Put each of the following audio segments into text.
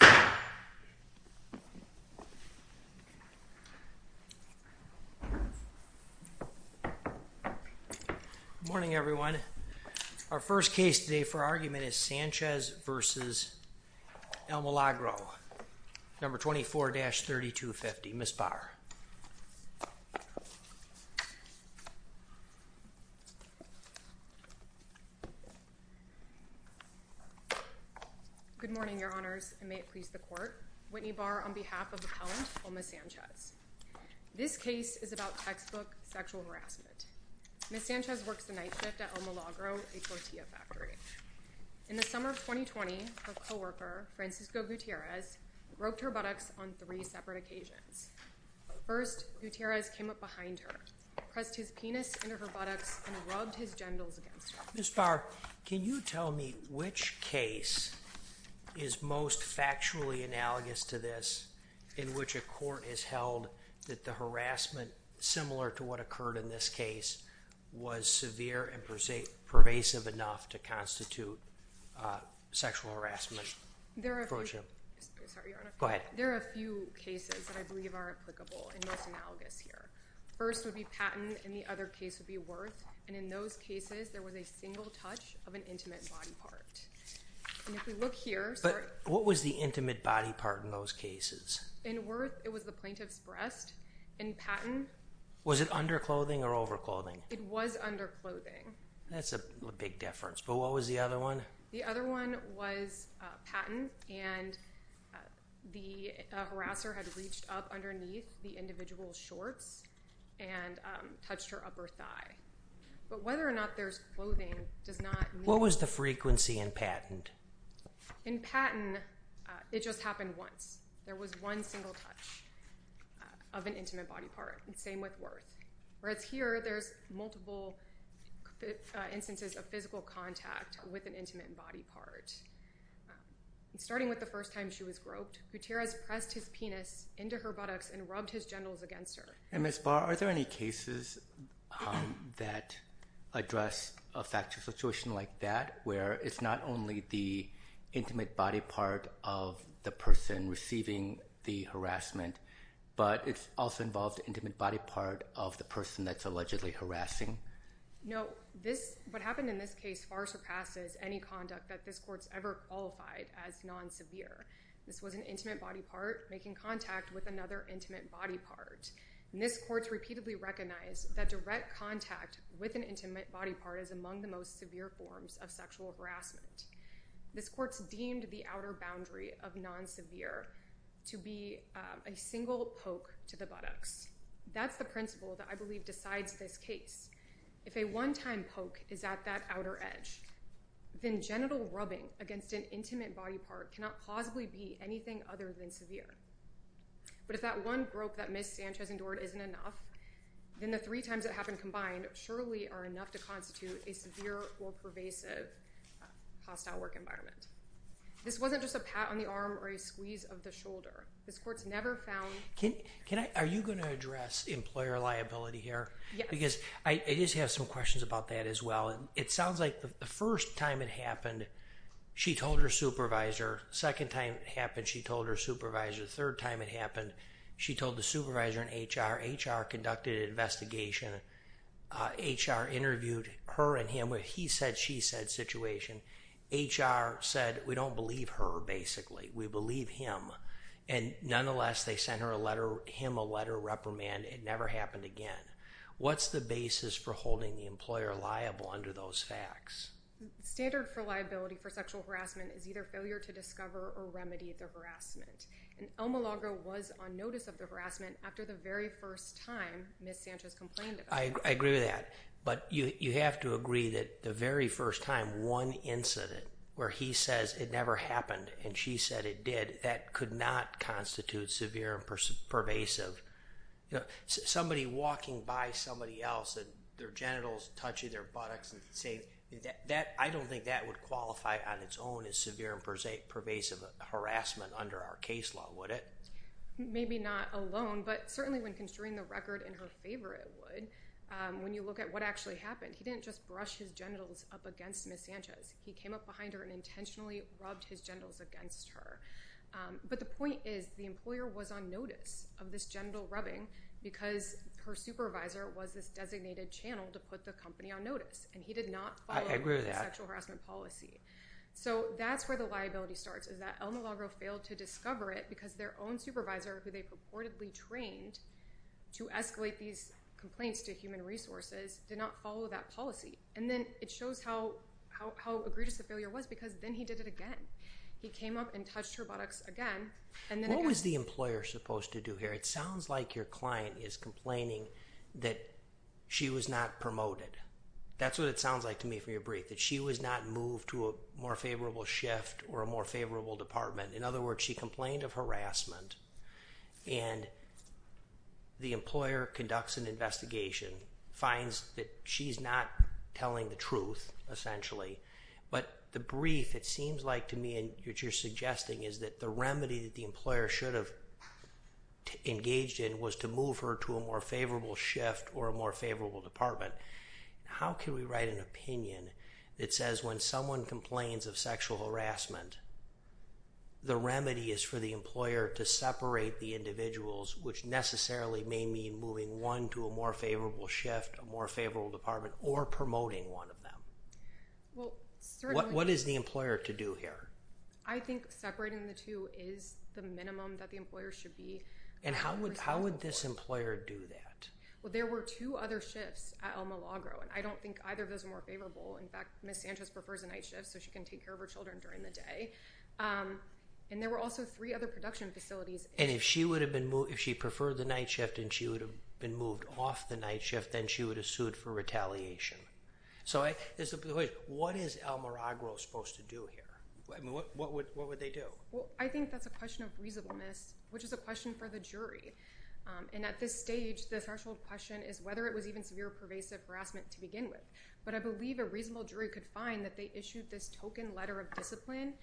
Good morning, everyone. Our first case today for argument is Sanchez v. El Milagro, No. 24-3250, Ms. Barr. Good morning, Your Honors, and may it please the Court. Whitney Barr on behalf of appellant, Oma Sanchez. This case is about textbook sexual harassment. Ms. Sanchez works the night shift at El Milagro, a tortilla factory. In the summer of 2020, her coworker, Francisco Gutierrez, roped her buttocks on three separate occasions. First, Gutierrez came up behind her, pressed his penis into her buttocks, and rubbed his genitals against her. Ms. Barr, can you tell me which case is most factually analogous to this, in which a court has held that the harassment, similar to what occurred in this case, was severe and pervasive enough to constitute sexual harassment? There are a few cases that I believe are applicable and most analogous here. First would be Patton, and the other case would be Wirth, and in those cases, there was a single touch of an intimate body part. What was the intimate body part in those cases? In Wirth, it was the plaintiff's breast. In Patton? Was it underclothing or overclothing? It was underclothing. That's a big difference, but what was the other one? The other one was Patton, and the harasser had reached up underneath the individual's shorts and touched her upper thigh, but whether or not there's clothing does not mean... What was the frequency in Patton? In Patton, it just happened once. There was one single touch of an intimate body part, and same with Wirth, whereas here, there's multiple instances of physical contact with an intimate body part. Starting with the first time she was groped, Gutierrez pressed his penis into her buttocks and rubbed his genitals against her. Ms. Barr, are there any cases that address a factual situation like that, where it's not only the intimate body part of the person receiving the harassment, but it's also involved intimate body part of the person that's allegedly harassing? No. What happened in this case far surpasses any conduct that this court's ever qualified as non-severe. This was an intimate body part making contact with another intimate body part. This court's repeatedly recognized that direct contact with an intimate body part is among the most severe forms of sexual harassment. This court's deemed the outer boundary of non-severe to be a single poke to the buttocks. That's the principle that I believe decides this case. If a one-time poke is at that outer edge, then genital rubbing against an intimate body part cannot possibly be anything other than severe. But if that one grope that Ms. Sanchez endured isn't enough, then the three times it happened in this hostile work environment. This wasn't just a pat on the arm or a squeeze of the shoulder. This court's never found... Are you going to address employer liability here? Yeah. Because I just have some questions about that as well. It sounds like the first time it happened, she told her supervisor. Second time it happened, she told her supervisor. Third time it happened, she told the supervisor and HR. HR conducted an investigation. HR interviewed her and him. He said, she said situation. HR said, we don't believe her, basically. We believe him. And nonetheless, they sent him a letter reprimanding, it never happened again. What's the basis for holding the employer liable under those facts? Standard for liability for sexual harassment is either failure to discover or remedy the And El Milagro was on notice of the harassment after the very first time Ms. Sanchez complained I agree with that. But you have to agree that the very first time one incident where he says it never happened and she said it did, that could not constitute severe and pervasive. Somebody walking by somebody else and their genitals touching their buttocks and say that I don't think that would qualify on its own as severe and pervasive harassment under our case law. Would it? Maybe not alone, but certainly when construing the record in her favor, it would. When you look at what actually happened, he didn't just brush his genitals up against Ms. Sanchez. He came up behind her and intentionally rubbed his genitals against her. But the point is, the employer was on notice of this genital rubbing because her supervisor was this designated channel to put the company on notice and he did not follow the sexual harassment policy. So that's where the liability starts is that El Milagro failed to discover it because their own supervisor who they purportedly trained to escalate these complaints to human resources did not follow that policy. And then it shows how egregious the failure was because then he did it again. He came up and touched her buttocks again and then again. What was the employer supposed to do here? It sounds like your client is complaining that she was not promoted. That's what it sounds like to me from your brief, that she was not moved to a more favorable shift or a more favorable department. In other words, she complained of harassment and the employer conducts an investigation, finds that she's not telling the truth, essentially. But the brief, it seems like to me, and what you're suggesting is that the remedy that the employer should have engaged in was to move her to a more favorable shift or a more favorable department. But how can we write an opinion that says when someone complains of sexual harassment, the remedy is for the employer to separate the individuals, which necessarily may mean moving one to a more favorable shift, a more favorable department, or promoting one of them. What is the employer to do here? I think separating the two is the minimum that the employer should be. And how would this employer do that? Well, there were two other shifts at El Miragro, and I don't think either of those are more In fact, Ms. Sanchez prefers a night shift so she can take care of her children during the day. And there were also three other production facilities. And if she preferred the night shift and she would have been moved off the night shift, then she would have sued for retaliation. So what is El Miragro supposed to do here? What would they do? Well, I think that's a question of reasonableness, which is a question for the jury. And at this stage, the threshold question is whether it was even severe pervasive harassment to begin with. But I believe a reasonable jury could find that they issued this token letter of discipline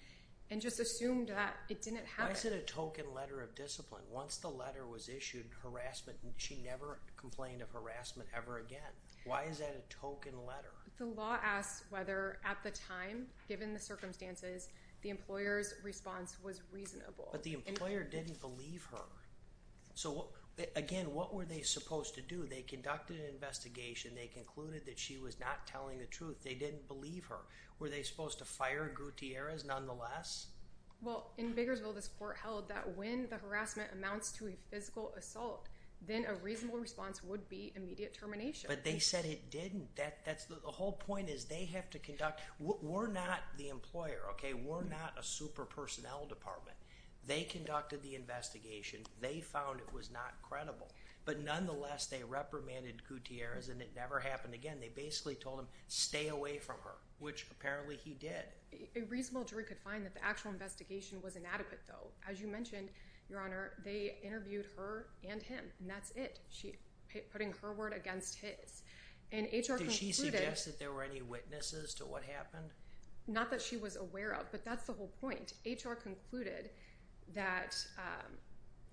and just assumed that it didn't happen. Why is it a token letter of discipline? Once the letter was issued, harassment, she never complained of harassment ever again. Why is that a token letter? The law asks whether at the time, given the circumstances, the employer's response was reasonable. But the employer didn't believe her. So again, what were they supposed to do? They conducted an investigation. They concluded that she was not telling the truth. They didn't believe her. Were they supposed to fire Gutierrez nonetheless? Well, in Bakersville, this court held that when the harassment amounts to a physical assault, then a reasonable response would be immediate termination. But they said it didn't. The whole point is they have to conduct... We're not the employer, okay? We're not a super personnel department. They conducted the investigation. They found it was not credible. But nonetheless, they reprimanded Gutierrez, and it never happened again. They basically told him, stay away from her, which apparently he did. A reasonable jury could find that the actual investigation was inadequate, though. As you mentioned, Your Honor, they interviewed her and him, and that's it, putting her word against his. And HR concluded... Did she suggest that there were any witnesses to what happened? Not that she was aware of, but that's the whole point. HR concluded that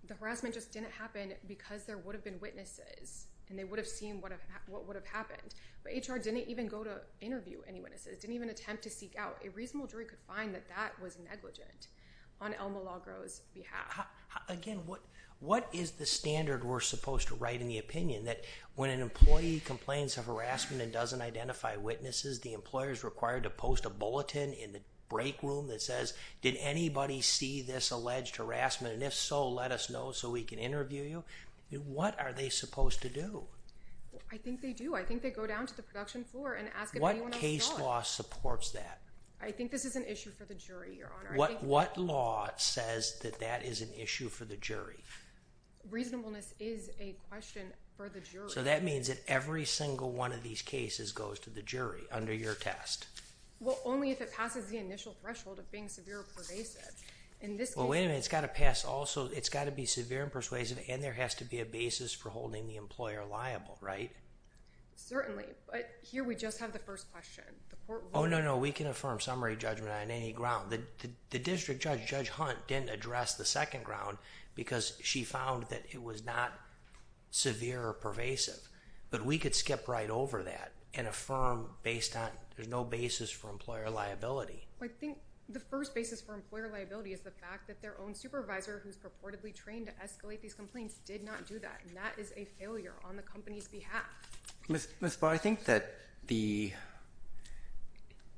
the harassment just didn't happen because there would have been witnesses, and they would have seen what would have happened. But HR didn't even go to interview any witnesses, didn't even attempt to seek out. A reasonable jury could find that that was negligent on Elma LaGros' behalf. Again, what is the standard we're supposed to write in the opinion, that when an employee complains of harassment and doesn't identify witnesses, the employer is required to post a bulletin in the break room that says, did anybody see this alleged harassment, and if so, let us know so we can interview you? What are they supposed to do? I think they do. I think they go down to the production floor and ask if anyone else saw it. What case law supports that? I think this is an issue for the jury, Your Honor. What law says that that is an issue for the jury? Reasonableness is a question for the jury. So that means that every single one of these cases goes to the jury under your test? Well, only if it passes the initial threshold of being severe or pervasive. In this case— Well, wait a minute. It's got to pass also—it's got to be severe and persuasive, and there has to be a basis for holding the employer liable, right? Certainly. But here we just have the first question. The court will— Oh, no, no. We can affirm summary judgment on any ground. The district judge, Judge Hunt, didn't address the second ground because she found that it was not severe or pervasive. But we could skip right over that and affirm based on—there's no basis for employer liability. I think the first basis for employer liability is the fact that their own supervisor who's purportedly trained to escalate these complaints did not do that, and that is a failure on the company's behalf. Ms. Barr, I think that the—you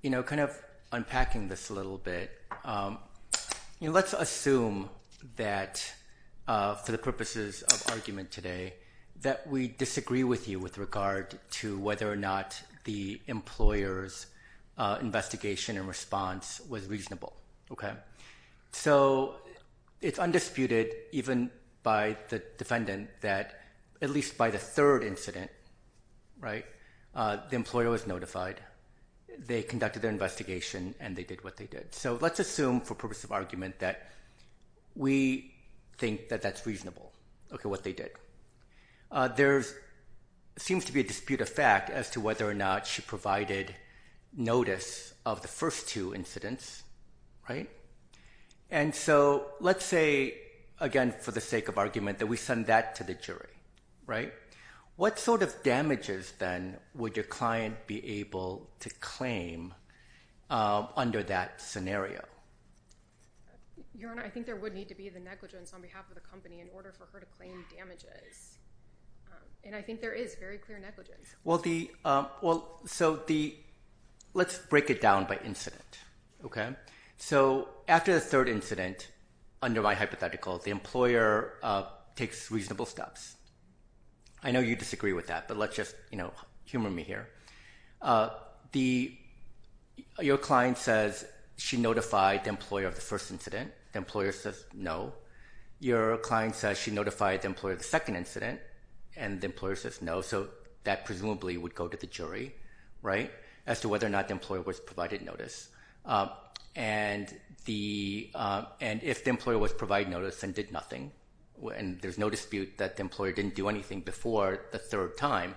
know, kind of unpacking this a little bit, you know, let's assume that for the purposes of argument today that we disagree with you with regard to whether or not the employer's investigation and response was reasonable, okay? So it's undisputed even by the defendant that at least by the third incident, right, the employer was notified, they conducted their investigation, and they did what they did. So let's assume for purposes of argument that we think that that's reasonable, okay, what they did. There seems to be a dispute of fact as to whether or not she provided notice of the first two incidents, right? And so let's say, again, for the sake of argument, that we send that to the jury, right? What sort of damages, then, would your client be able to claim under that scenario? Your Honor, I think there would need to be the negligence on behalf of the company in order for her to claim damages, and I think there is very clear negligence. Well, the—well, so the—let's break it down by incident, okay? So after the third incident, under my hypothetical, the employer takes reasonable steps. I know you disagree with that, but let's just, you know, humor me here. The—your client says she notified the employer of the first incident. The employer says no. Your client says she notified the employer of the second incident, and the employer says no, so that presumably would go to the jury, right, as to whether or not the employer was provided notice. And the—and if the employer was provided notice and did nothing, and there's no dispute that the employer didn't do anything before the third time,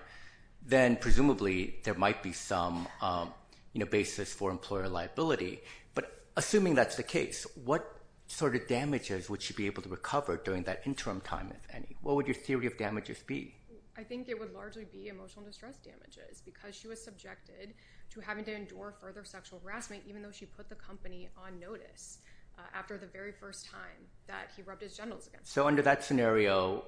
then presumably there might be some, you know, basis for employer liability. But assuming that's the case, what sort of damages would she be able to recover during that interim time, if any? What would your theory of damages be? I think it would largely be emotional distress damages because she was subjected to having to endure further sexual harassment even though she put the company on notice after the very first time that he rubbed his genitals against her. So under that scenario,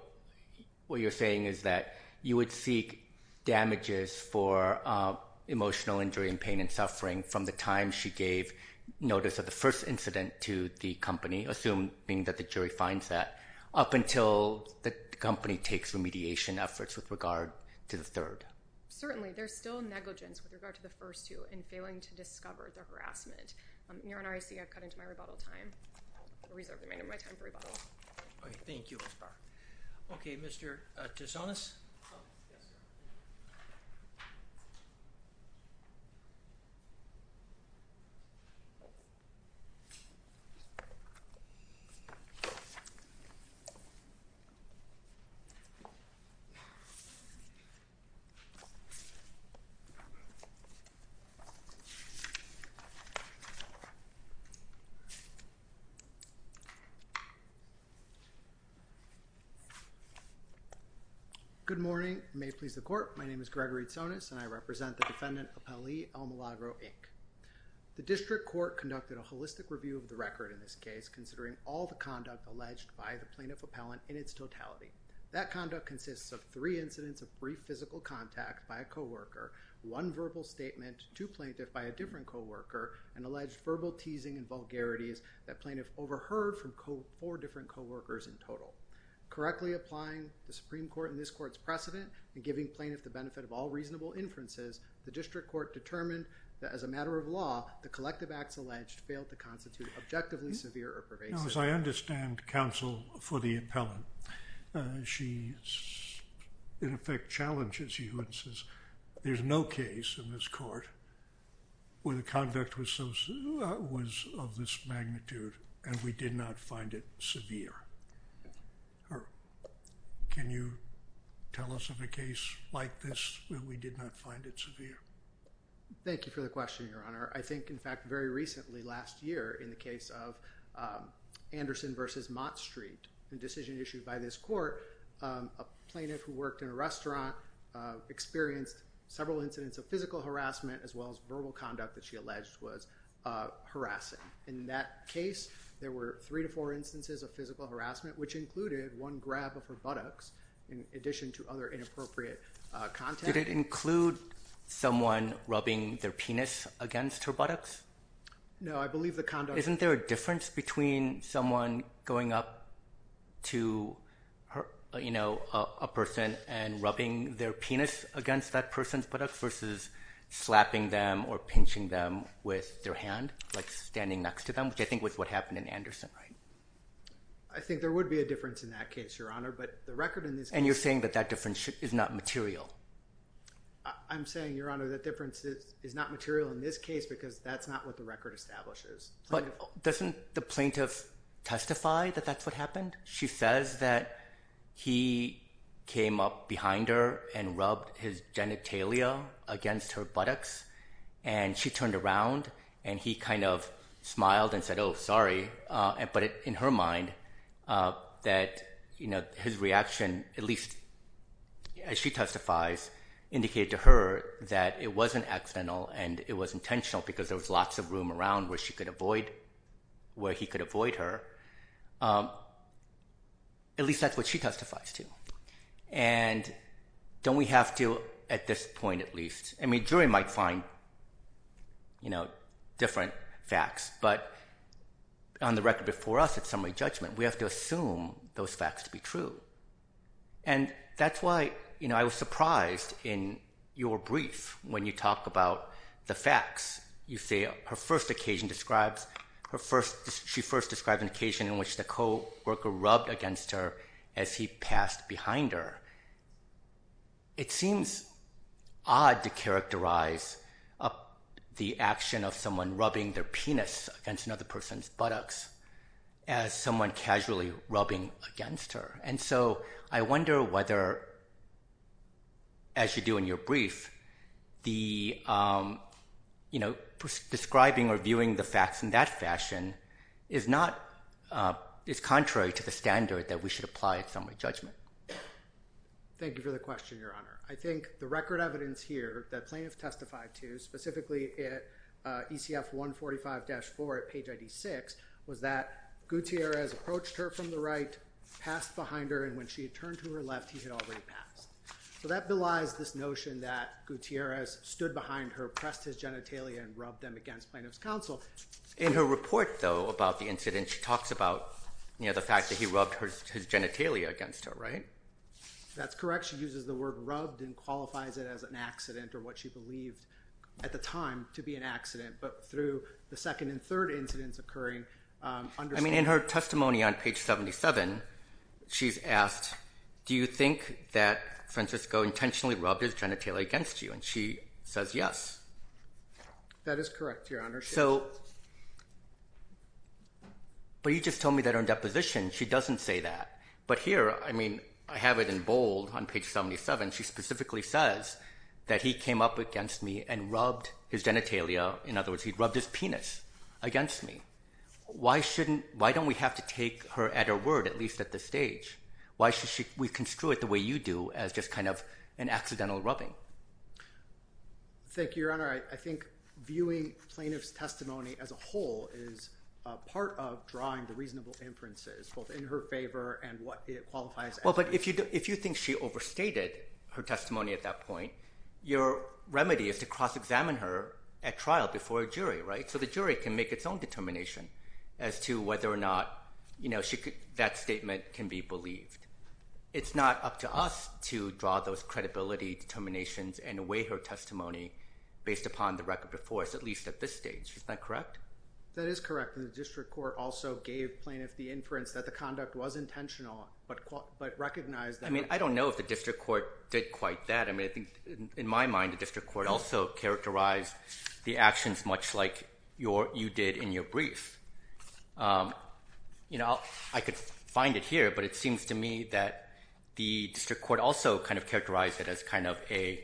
what you're saying is that you would seek damages for emotional injury and pain and suffering from the time she gave notice of the first incident to the company, assuming that the jury finds that, up until the company takes remediation efforts with regard to the third? Certainly. There's still negligence with regard to the first two in failing to discover their harassment. Your Honor, I see I've cut into my rebuttal time. I reserve the remainder of my time for rebuttal. Thank you, Ms. Barr. Okay, Mr. Tisonis? Yes, sir. Good morning. May it please the Court, my name is Gregory Tisonis and I represent the defendant, Appellee Almilagro, Inc. The District Court conducted a holistic review of the record in this case, considering all the conduct alleged by the plaintiff appellant in its totality. That conduct consists of three incidents of brief physical contact by a coworker, one alleged verbal teasing and vulgarities that plaintiff overheard from four different coworkers in total. Correctly applying the Supreme Court in this Court's precedent and giving plaintiff the benefit of all reasonable inferences, the District Court determined that as a matter of law, the collective acts alleged failed to constitute objectively severe or pervasive. Now, as I understand counsel for the appellant, she in effect challenges you and says there's no case in this Court where the conduct was of this magnitude and we did not find it severe. Can you tell us of a case like this where we did not find it severe? Thank you for the question, Your Honor. I think, in fact, very recently last year in the case of Anderson v. Mott Street, a plaintiff who worked in a restaurant experienced several incidents of physical harassment as well as verbal conduct that she alleged was harassing. In that case, there were three to four instances of physical harassment, which included one grab of her buttocks in addition to other inappropriate contact. Did it include someone rubbing their penis against her buttocks? No, I believe the conduct... Isn't there a difference between someone going up to a person and rubbing their penis against that person's buttocks versus slapping them or pinching them with their hand, like standing next to them, which I think was what happened in Anderson, right? I think there would be a difference in that case, Your Honor, but the record in this case... And you're saying that that difference is not material? I'm saying, Your Honor, that difference is not material in this case because that's not what the record establishes. But doesn't the plaintiff testify that that's what happened? She says that he came up behind her and rubbed his genitalia against her buttocks and she turned around and he kind of smiled and said, oh, sorry. But in her mind, that his reaction, at least as she testifies, indicated to her that it wasn't accidental and it was intentional because there was lots of room around where he could avoid her. At least that's what she testifies to. And don't we have to, at this point at least... I mean, jury might find different facts, but on the record before us at summary judgment, we have to assume those facts to be true. And that's why I was surprised in your brief when you talk about the facts. You say her first occasion describes... She first described an occasion in which the co-worker rubbed against her as he passed behind her. It seems odd to characterize the action of someone rubbing their penis against another person's buttocks as someone casually rubbing against her. And so I wonder whether, as you do in your brief, describing or viewing the facts in that fashion is contrary to the standard that we should apply at summary judgment. Thank you for the question, Your Honor. I think the record evidence here that plaintiffs testified to, specifically at ECF 145-4 at In her report, though, about the incident, she talks about the fact that he rubbed his genitalia against her, right? That's correct. She uses the word rubbed and qualifies it as an accident or what she believed at the time to be an accident. But through the second and third incidents occurring... I mean, in her testimony on page 77, she's asked, do you think that Francisco intentionally rubbed his genitalia against you? And she says yes. That is correct, Your Honor. So... But you just told me that her deposition, she doesn't say that. But here, I mean, I have it in bold on page 77. She specifically says that he came up against me and rubbed his genitalia. In other words, he rubbed his penis against me. Why don't we have to take her at her word, at least at this stage? Why should we construe it the way you do, as just kind of an accidental rubbing? Thank you, Your Honor. I think viewing plaintiff's testimony as a whole is part of drawing the reasonable inferences, both in her favor and what it qualifies as an accident. Well, but if you think she overstated her testimony at that point, your remedy is to cross-examine her at trial before a jury, right? So the jury can make its own determination as to whether or not, you know, that statement can be believed. It's not up to us to draw those credibility determinations and weigh her testimony based upon the record before us, at least at this stage. Isn't that correct? That is correct. And the district court also gave plaintiff the inference that the conduct was intentional, but recognized that... I mean, I don't know if the district court did quite that. In my mind, the district court also characterized the actions much like you did in your brief. You know, I could find it here, but it seems to me that the district court also kind of characterized it as kind of a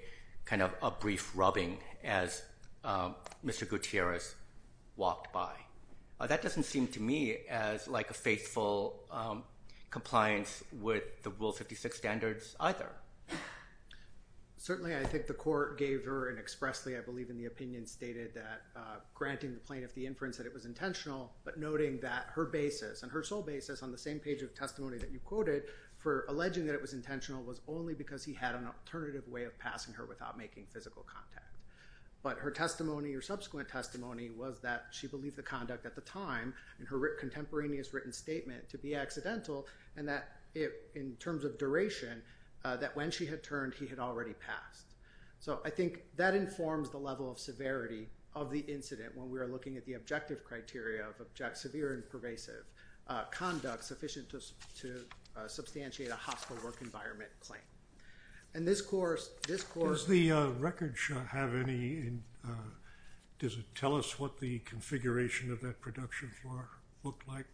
brief rubbing as Mr. Gutierrez walked by. That doesn't seem to me as like a faithful compliance with the Rule 56 standards either. Certainly, I think the court gave her an expressly, I believe in the opinion, stated that granting the plaintiff the inference that it was intentional, but noting that her basis and her sole basis on the same page of testimony that you quoted for alleging that it was intentional was only because he had an alternative way of passing her without making physical contact. But her testimony or subsequent testimony was that she believed the conduct at the time, in her contemporaneous written statement, to be accidental, and that in terms of duration, that when she had turned, he had already passed. So I think that informs the level of severity of the incident when we are looking at the objective criteria of severe and pervasive conduct sufficient to substantiate a hostile work environment claim. And this court... Does the record have any... Does it tell us what the configuration of that production floor looked like?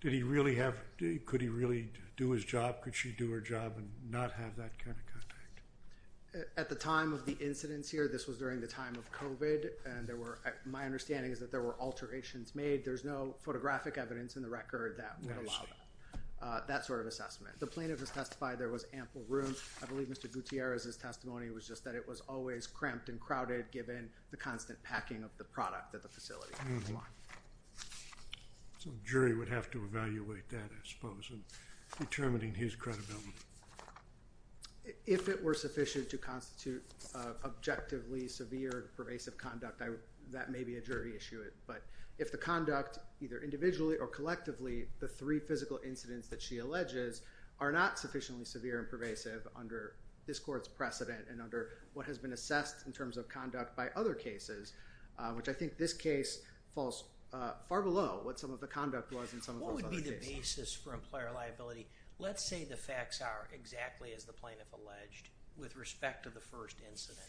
Did he really have... Could he really do his job? Could she do her job and not have that kind of contact? At the time of the incidents here, this was during the time of COVID, and there were... My understanding is that there were alterations made. There's no photographic evidence in the record that would allow that sort of assessment. The plaintiff has testified there was ample room. I believe Mr. Gutierrez's testimony was just that it was always cramped and crowded given the constant packing of the product at the facility. So the jury would have to evaluate that, I suppose, in determining his credibility. If it were sufficient to constitute objectively severe and pervasive conduct, that may be a jury issue. But if the conduct, either individually or collectively, the three physical incidents that she alleges are not sufficiently severe and pervasive under this court's precedent and under what has been assessed in terms of conduct by other cases, which I think this case falls far below what some of the conduct was in some of those other cases. What would be the basis for employer liability? Let's say the facts are exactly as the plaintiff alleged with respect to the first incident.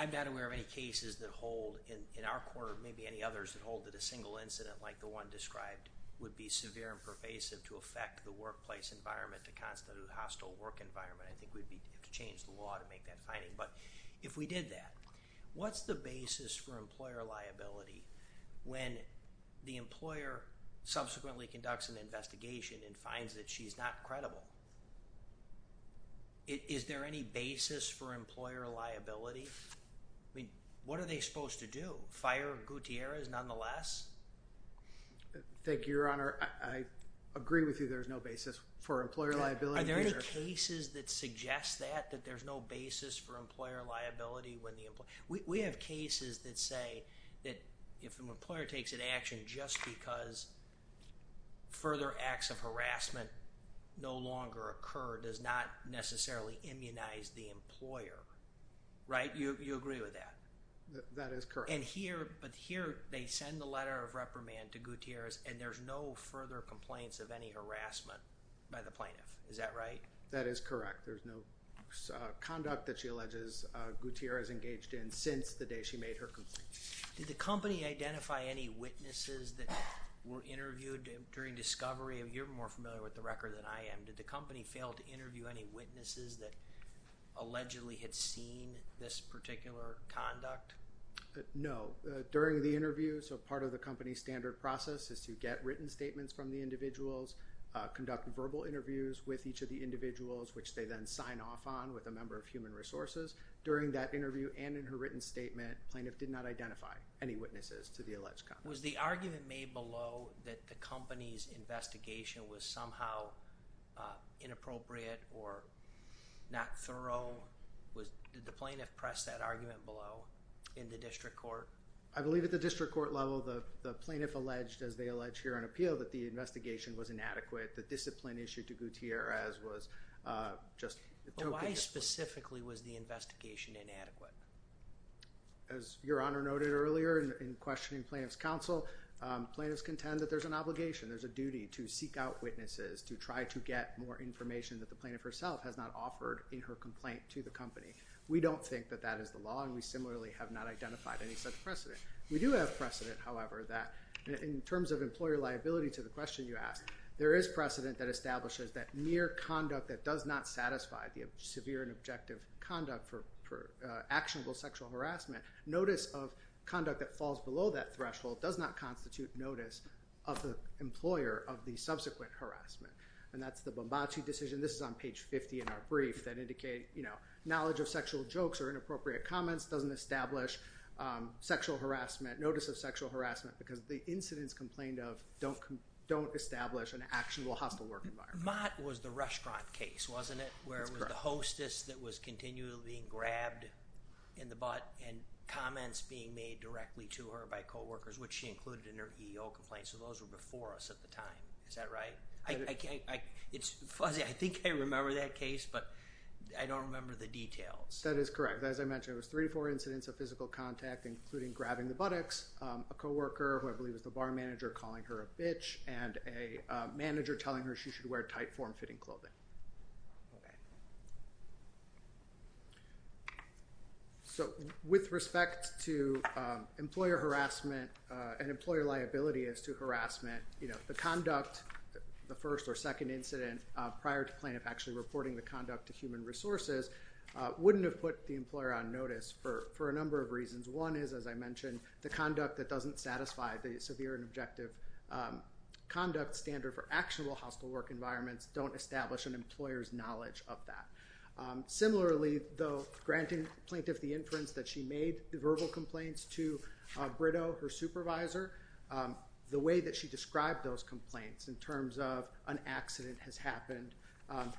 I'm not aware of any cases that hold, in our court or maybe any others, that hold that a single incident like the one described would be severe and pervasive to affect the workplace environment, to constitute a hostile work environment. I think we'd have to change the law to make that finding. But if we did that, what's the basis for employer liability when the employer subsequently conducts an investigation and finds that she's not credible? Is there any basis for employer liability? What are they supposed to do, fire Gutierrez nonetheless? Thank you, Your Honor. I agree with you there's no basis for employer liability. Are there any cases that suggest that, that there's no basis for employer liability? We have cases that say that if an employer takes an action just because further acts of harassment no longer occur does not necessarily immunize the employer, right? You agree with that? That is correct. But here they send the letter of reprimand to Gutierrez and there's no further complaints of any harassment by the plaintiff. Is that right? That is correct. There's no conduct that she alleges Gutierrez engaged in since the day she made her complaint. Did the company identify any witnesses that were interviewed during discovery? You're more familiar with the record than I am. Did the company fail to interview any witnesses that allegedly had seen this particular conduct? No. During the interview, so part of the company's standard process is to get written statements from the individuals, conduct verbal interviews with each of the individuals which they then sign off on with a member of human resources. During that interview and in her written statement, plaintiff did not identify any witnesses to the alleged conduct. Was the argument made below that the company's investigation was somehow inappropriate or not thorough? Did the plaintiff press that argument below in the district court? I believe at the district court level, the plaintiff alleged, as they allege here on appeal, that the investigation was inadequate. The discipline issued to Gutierrez was just appropriate. Why specifically was the investigation inadequate? As Your Honor noted earlier in questioning plaintiff's counsel, plaintiffs contend that there's an obligation, there's a duty to seek out witnesses, to try to get more information that the plaintiff herself has not offered in her complaint to the company. We don't think that that is the law and we similarly have not identified any such precedent. We do have precedent, however, that in terms of employer liability to the question you asked, there is precedent that establishes that mere conduct that does not satisfy the severe and objective conduct for actionable sexual harassment, notice of conduct that falls below that threshold does not constitute notice of the employer of the subsequent harassment. And that's the Bombacci decision. This is on page 50 in our brief that indicates, you know, knowledge of sexual jokes or inappropriate comments doesn't establish sexual harassment, notice of sexual harassment because the incidents complained of don't establish an actionable hostile work environment. Mott was the restaurant case, wasn't it? That's correct. Where it was the hostess that was continually being grabbed in the butt and comments being made directly to her by coworkers, which she included in her EEO complaint. So those were before us at the time. Is that right? It's fuzzy. I think I remember that case, but I don't remember the details. That is correct. As I mentioned, there was three or four incidents of physical contact, including grabbing the buttocks, a coworker who I believe was the bar manager calling her a bitch, and a manager telling her she should wear tight form-fitting clothing. So with respect to employer harassment and employer liability as to harassment, you know, the conduct, the first or second incident, prior to plaintiff actually reporting the conduct to human resources, wouldn't have put the employer on notice for a number of reasons. One is, as I mentioned, the conduct that doesn't satisfy the severe and objective conduct standard for actionable hospital work environments don't establish an employer's knowledge of that. Similarly, though, granting plaintiff the inference that she made verbal complaints to Brito, her supervisor, the way that she described those complaints in terms of an accident has happened.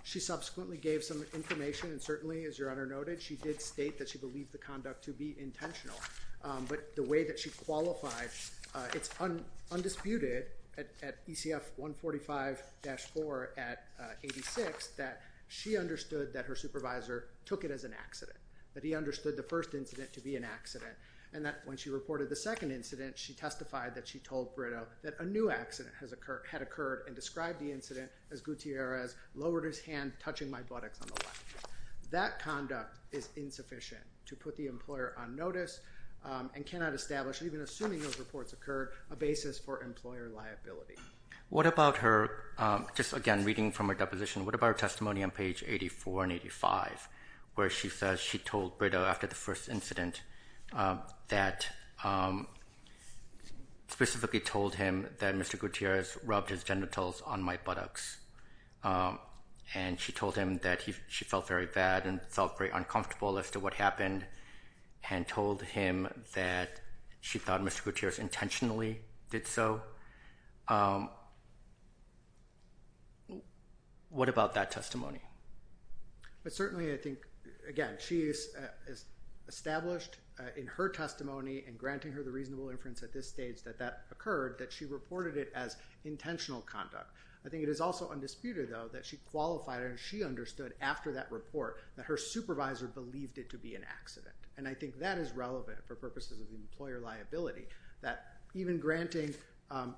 She subsequently gave some information, and certainly, as your honor noted, she did state that she believed the conduct to be intentional, but the way that she qualified, it's undisputed at ECF 145-4 at 86 that she understood that her supervisor took it as an accident, that he understood the first incident to be an accident, and that when she reported the second incident, she testified that she told Brito that a new accident had occurred and described the incident as Gutierrez lowered his hand, touching my buttocks on the left. That conduct is insufficient to put the employer on notice and cannot establish, even assuming those reports occur, a basis for employer liability. What about her, just again reading from her deposition, what about her testimony on page 84 and 85 where she says she told Brito after the first incident that specifically told him that Mr. Gutierrez rubbed his genitals on my buttocks, and she told him that she felt very bad and felt very uncomfortable as to what happened and told him that she thought Mr. Gutierrez intentionally did so? What about that testimony? But certainly, I think, again, she has established in her testimony and granting her the reasonable inference at this stage that that occurred, that she reported it as intentional conduct. I think it is also undisputed, though, that she qualified and she understood after that report that her supervisor believed it to be an accident. And I think that is relevant for purposes of the employer liability, that even granting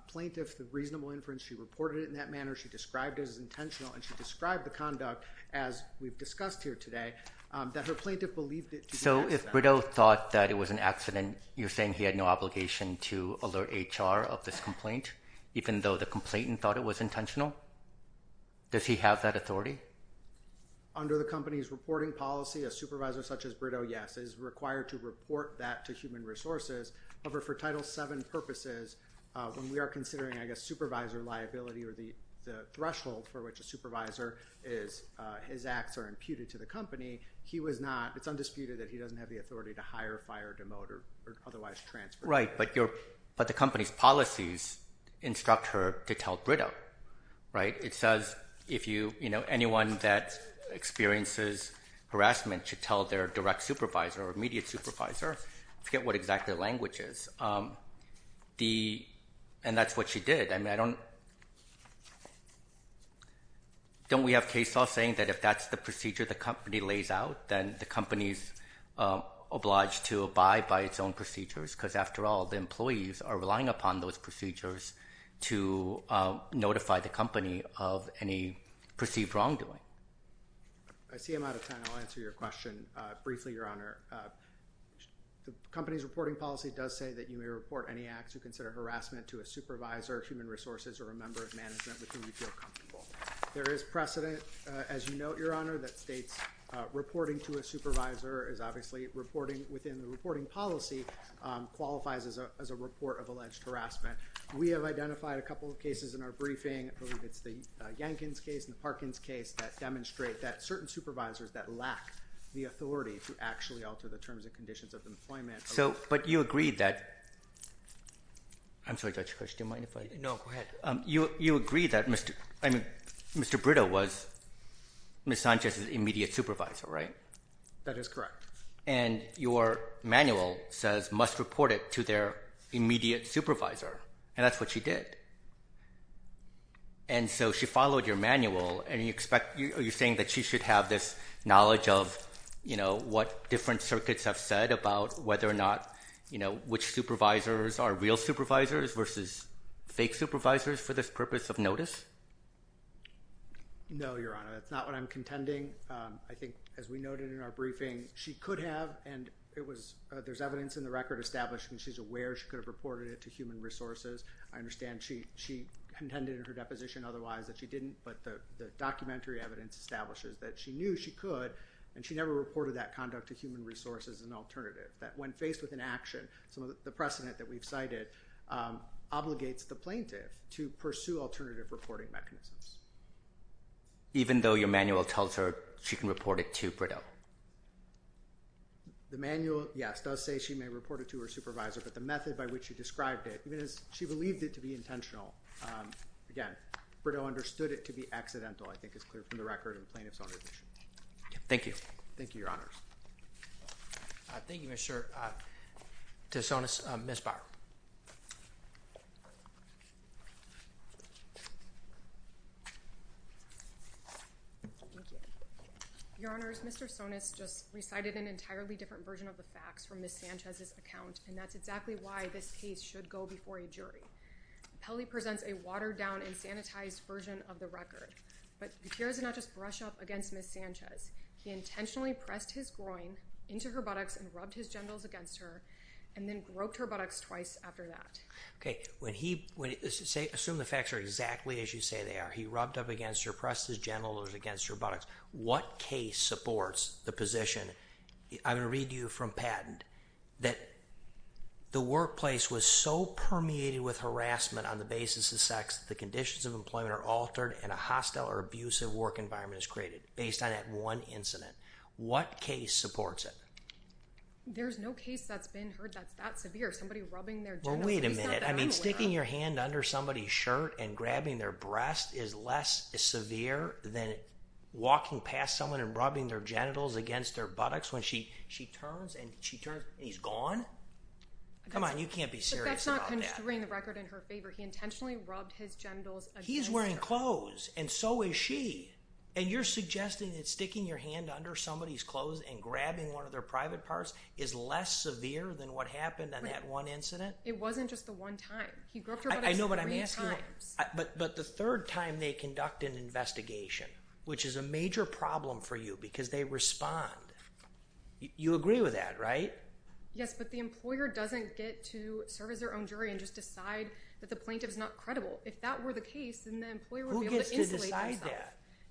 plaintiffs the reasonable inference, she reported it in that manner, she described it as intentional, and she described the conduct, as we've discussed here today, that her plaintiff believed it to be an accident. So if Brito thought that it was an accident, you're saying he had no obligation to alert HR of this complaint, even though the complainant thought it was intentional? Does he have that authority? Under the company's reporting policy, a supervisor such as Brito, yes, is required to report that to Human Resources. However, for Title VII purposes, when we are considering, I guess, supervisor liability or the threshold for which a supervisor is... his acts are imputed to the company, he was not... It's undisputed that he doesn't have the authority to hire, fire, demote, or otherwise transfer. Right, but the company's policies instruct her to tell Brito, right? It says, you know, anyone that experiences harassment should tell their direct supervisor or immediate supervisor. I forget what exactly the language is. And that's what she did. I mean, I don't... Don't we have case law saying that if that's the procedure the company lays out, then the company's obliged to abide by its own procedures? Because after all, the employees are relying upon those procedures to notify the company of any perceived wrongdoing. I see I'm out of time. I'll answer your question briefly, Your Honor. The company's reporting policy does say that you may report any acts you consider harassment to a supervisor, Human Resources, or a member of management with whom you feel comfortable. There is precedent, as you note, Your Honor, that states reporting to a supervisor is obviously reporting within the reporting policy. It qualifies as a report of alleged harassment. We have identified a couple of cases in our briefing. I believe it's the Yankins case and the Parkins case that demonstrate that certain supervisors that lack the authority to actually alter the terms and conditions of employment... But you agree that... I'm sorry, Judge, do you mind if I...? No, go ahead. You agree that Mr. Brito was Ms. Sanchez's immediate supervisor, right? That is correct. And your manual says, must report it to their immediate supervisor, and that's what she did. And so she followed your manual, and are you saying that she should have this knowledge of what different circuits have said about whether or not which supervisors are real supervisors versus fake supervisors for this purpose of notice? No, Your Honor, that's not what I'm contending. I think, as we noted in our briefing, she could have, and there's evidence in the record establishing she's aware she could have reported it to Human Resources. I understand she contended in her deposition otherwise that she didn't, but the documentary evidence establishes that she knew she could, and she never reported that conduct to Human Resources as an alternative, that when faced with an action, some of the precedent that we've cited obligates the plaintiff to pursue alternative reporting mechanisms. Even though your manual tells her she can report it to Brideau? The manual, yes, does say she may report it to her supervisor, but the method by which she described it, even as she believed it to be intentional, again, Brideau understood it to be accidental, I think is clear from the record in plaintiff's own admission. Thank you. Thank you, Your Honors. Thank you, Mr. Tessonis. Ms. Bauer. Thank you. Your Honors, Mr. Tessonis just recited an entirely different version of the facts from Ms. Sanchez's account, and that's exactly why this case should go before a jury. Pelley presents a watered-down and sanitized version of the record, but Gutierrez did not just brush up against Ms. Sanchez. He intentionally pressed his groin into her buttocks and rubbed his genitals against her and then groped her buttocks twice after that. Okay, assume the facts are exactly as you say they are. He rubbed up against her, pressed his genitals against her buttocks. What case supports the position? I'm going to read to you from Patton that the workplace was so permeated with harassment on the basis of sex that the conditions of employment are altered and a hostile or abusive work environment is created based on that one incident. What case supports it? There's no case that's been heard that's that severe. Somebody rubbing their genitals. Well, wait a minute. I mean, sticking your hand under somebody's shirt and grabbing their breast is less severe than walking past someone and rubbing their genitals against their buttocks when she turns and she turns and he's gone? Come on, you can't be serious about that. But that's not constraining the record in her favor. He intentionally rubbed his genitals against her. He's wearing clothes, and so is she. And you're suggesting that sticking your hand under somebody's clothes and grabbing one of their private parts is less severe than what happened in that one incident? It wasn't just the one time. I know, but I'm asking you. But the third time they conduct an investigation, which is a major problem for you because they respond. You agree with that, right? Yes, but the employer doesn't get to serve as their own jury and just decide that the plaintiff is not credible. If that were the case, then the employer would be able to insulate themselves. Who gets to decide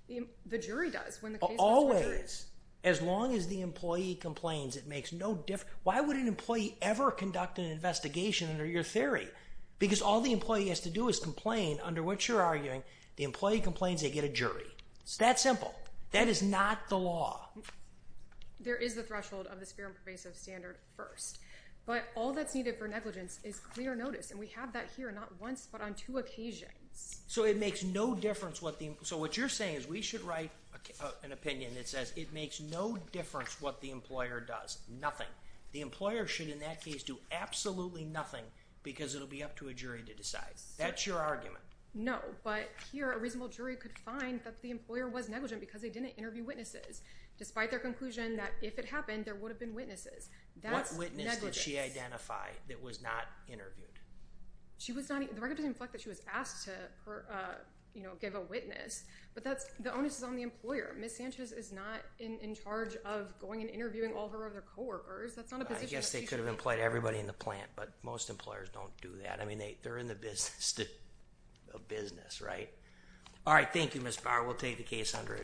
that? The jury does when the case goes to a jury. Always. As long as the employee complains, it makes no difference. Why would an employee ever conduct an investigation under your theory? Because all the employee has to do is complain, under which you're arguing the employee complains they get a jury. It's that simple. That is not the law. There is a threshold of the severe and pervasive standard first. But all that's needed for negligence is clear notice, and we have that here not once but on two occasions. So what you're saying is we should write an opinion that says it makes no difference what the employer does. Nothing. The employer should, in that case, do absolutely nothing because it will be up to a jury to decide. That's your argument. No, but here a reasonable jury could find that the employer was negligent because they didn't interview witnesses, despite their conclusion that if it happened, there would have been witnesses. What witness did she identify that was not interviewed? The record doesn't inflect that she was asked to give a witness, but the onus is on the employer. Ms. Sanchez is not in charge of going and interviewing all her other co-workers. That's not a position. I guess they could have employed everybody in the plant, but most employers don't do that. I mean, they're in the business of business, right? All right. Thank you, Ms. Bauer. We'll take the case under advisement.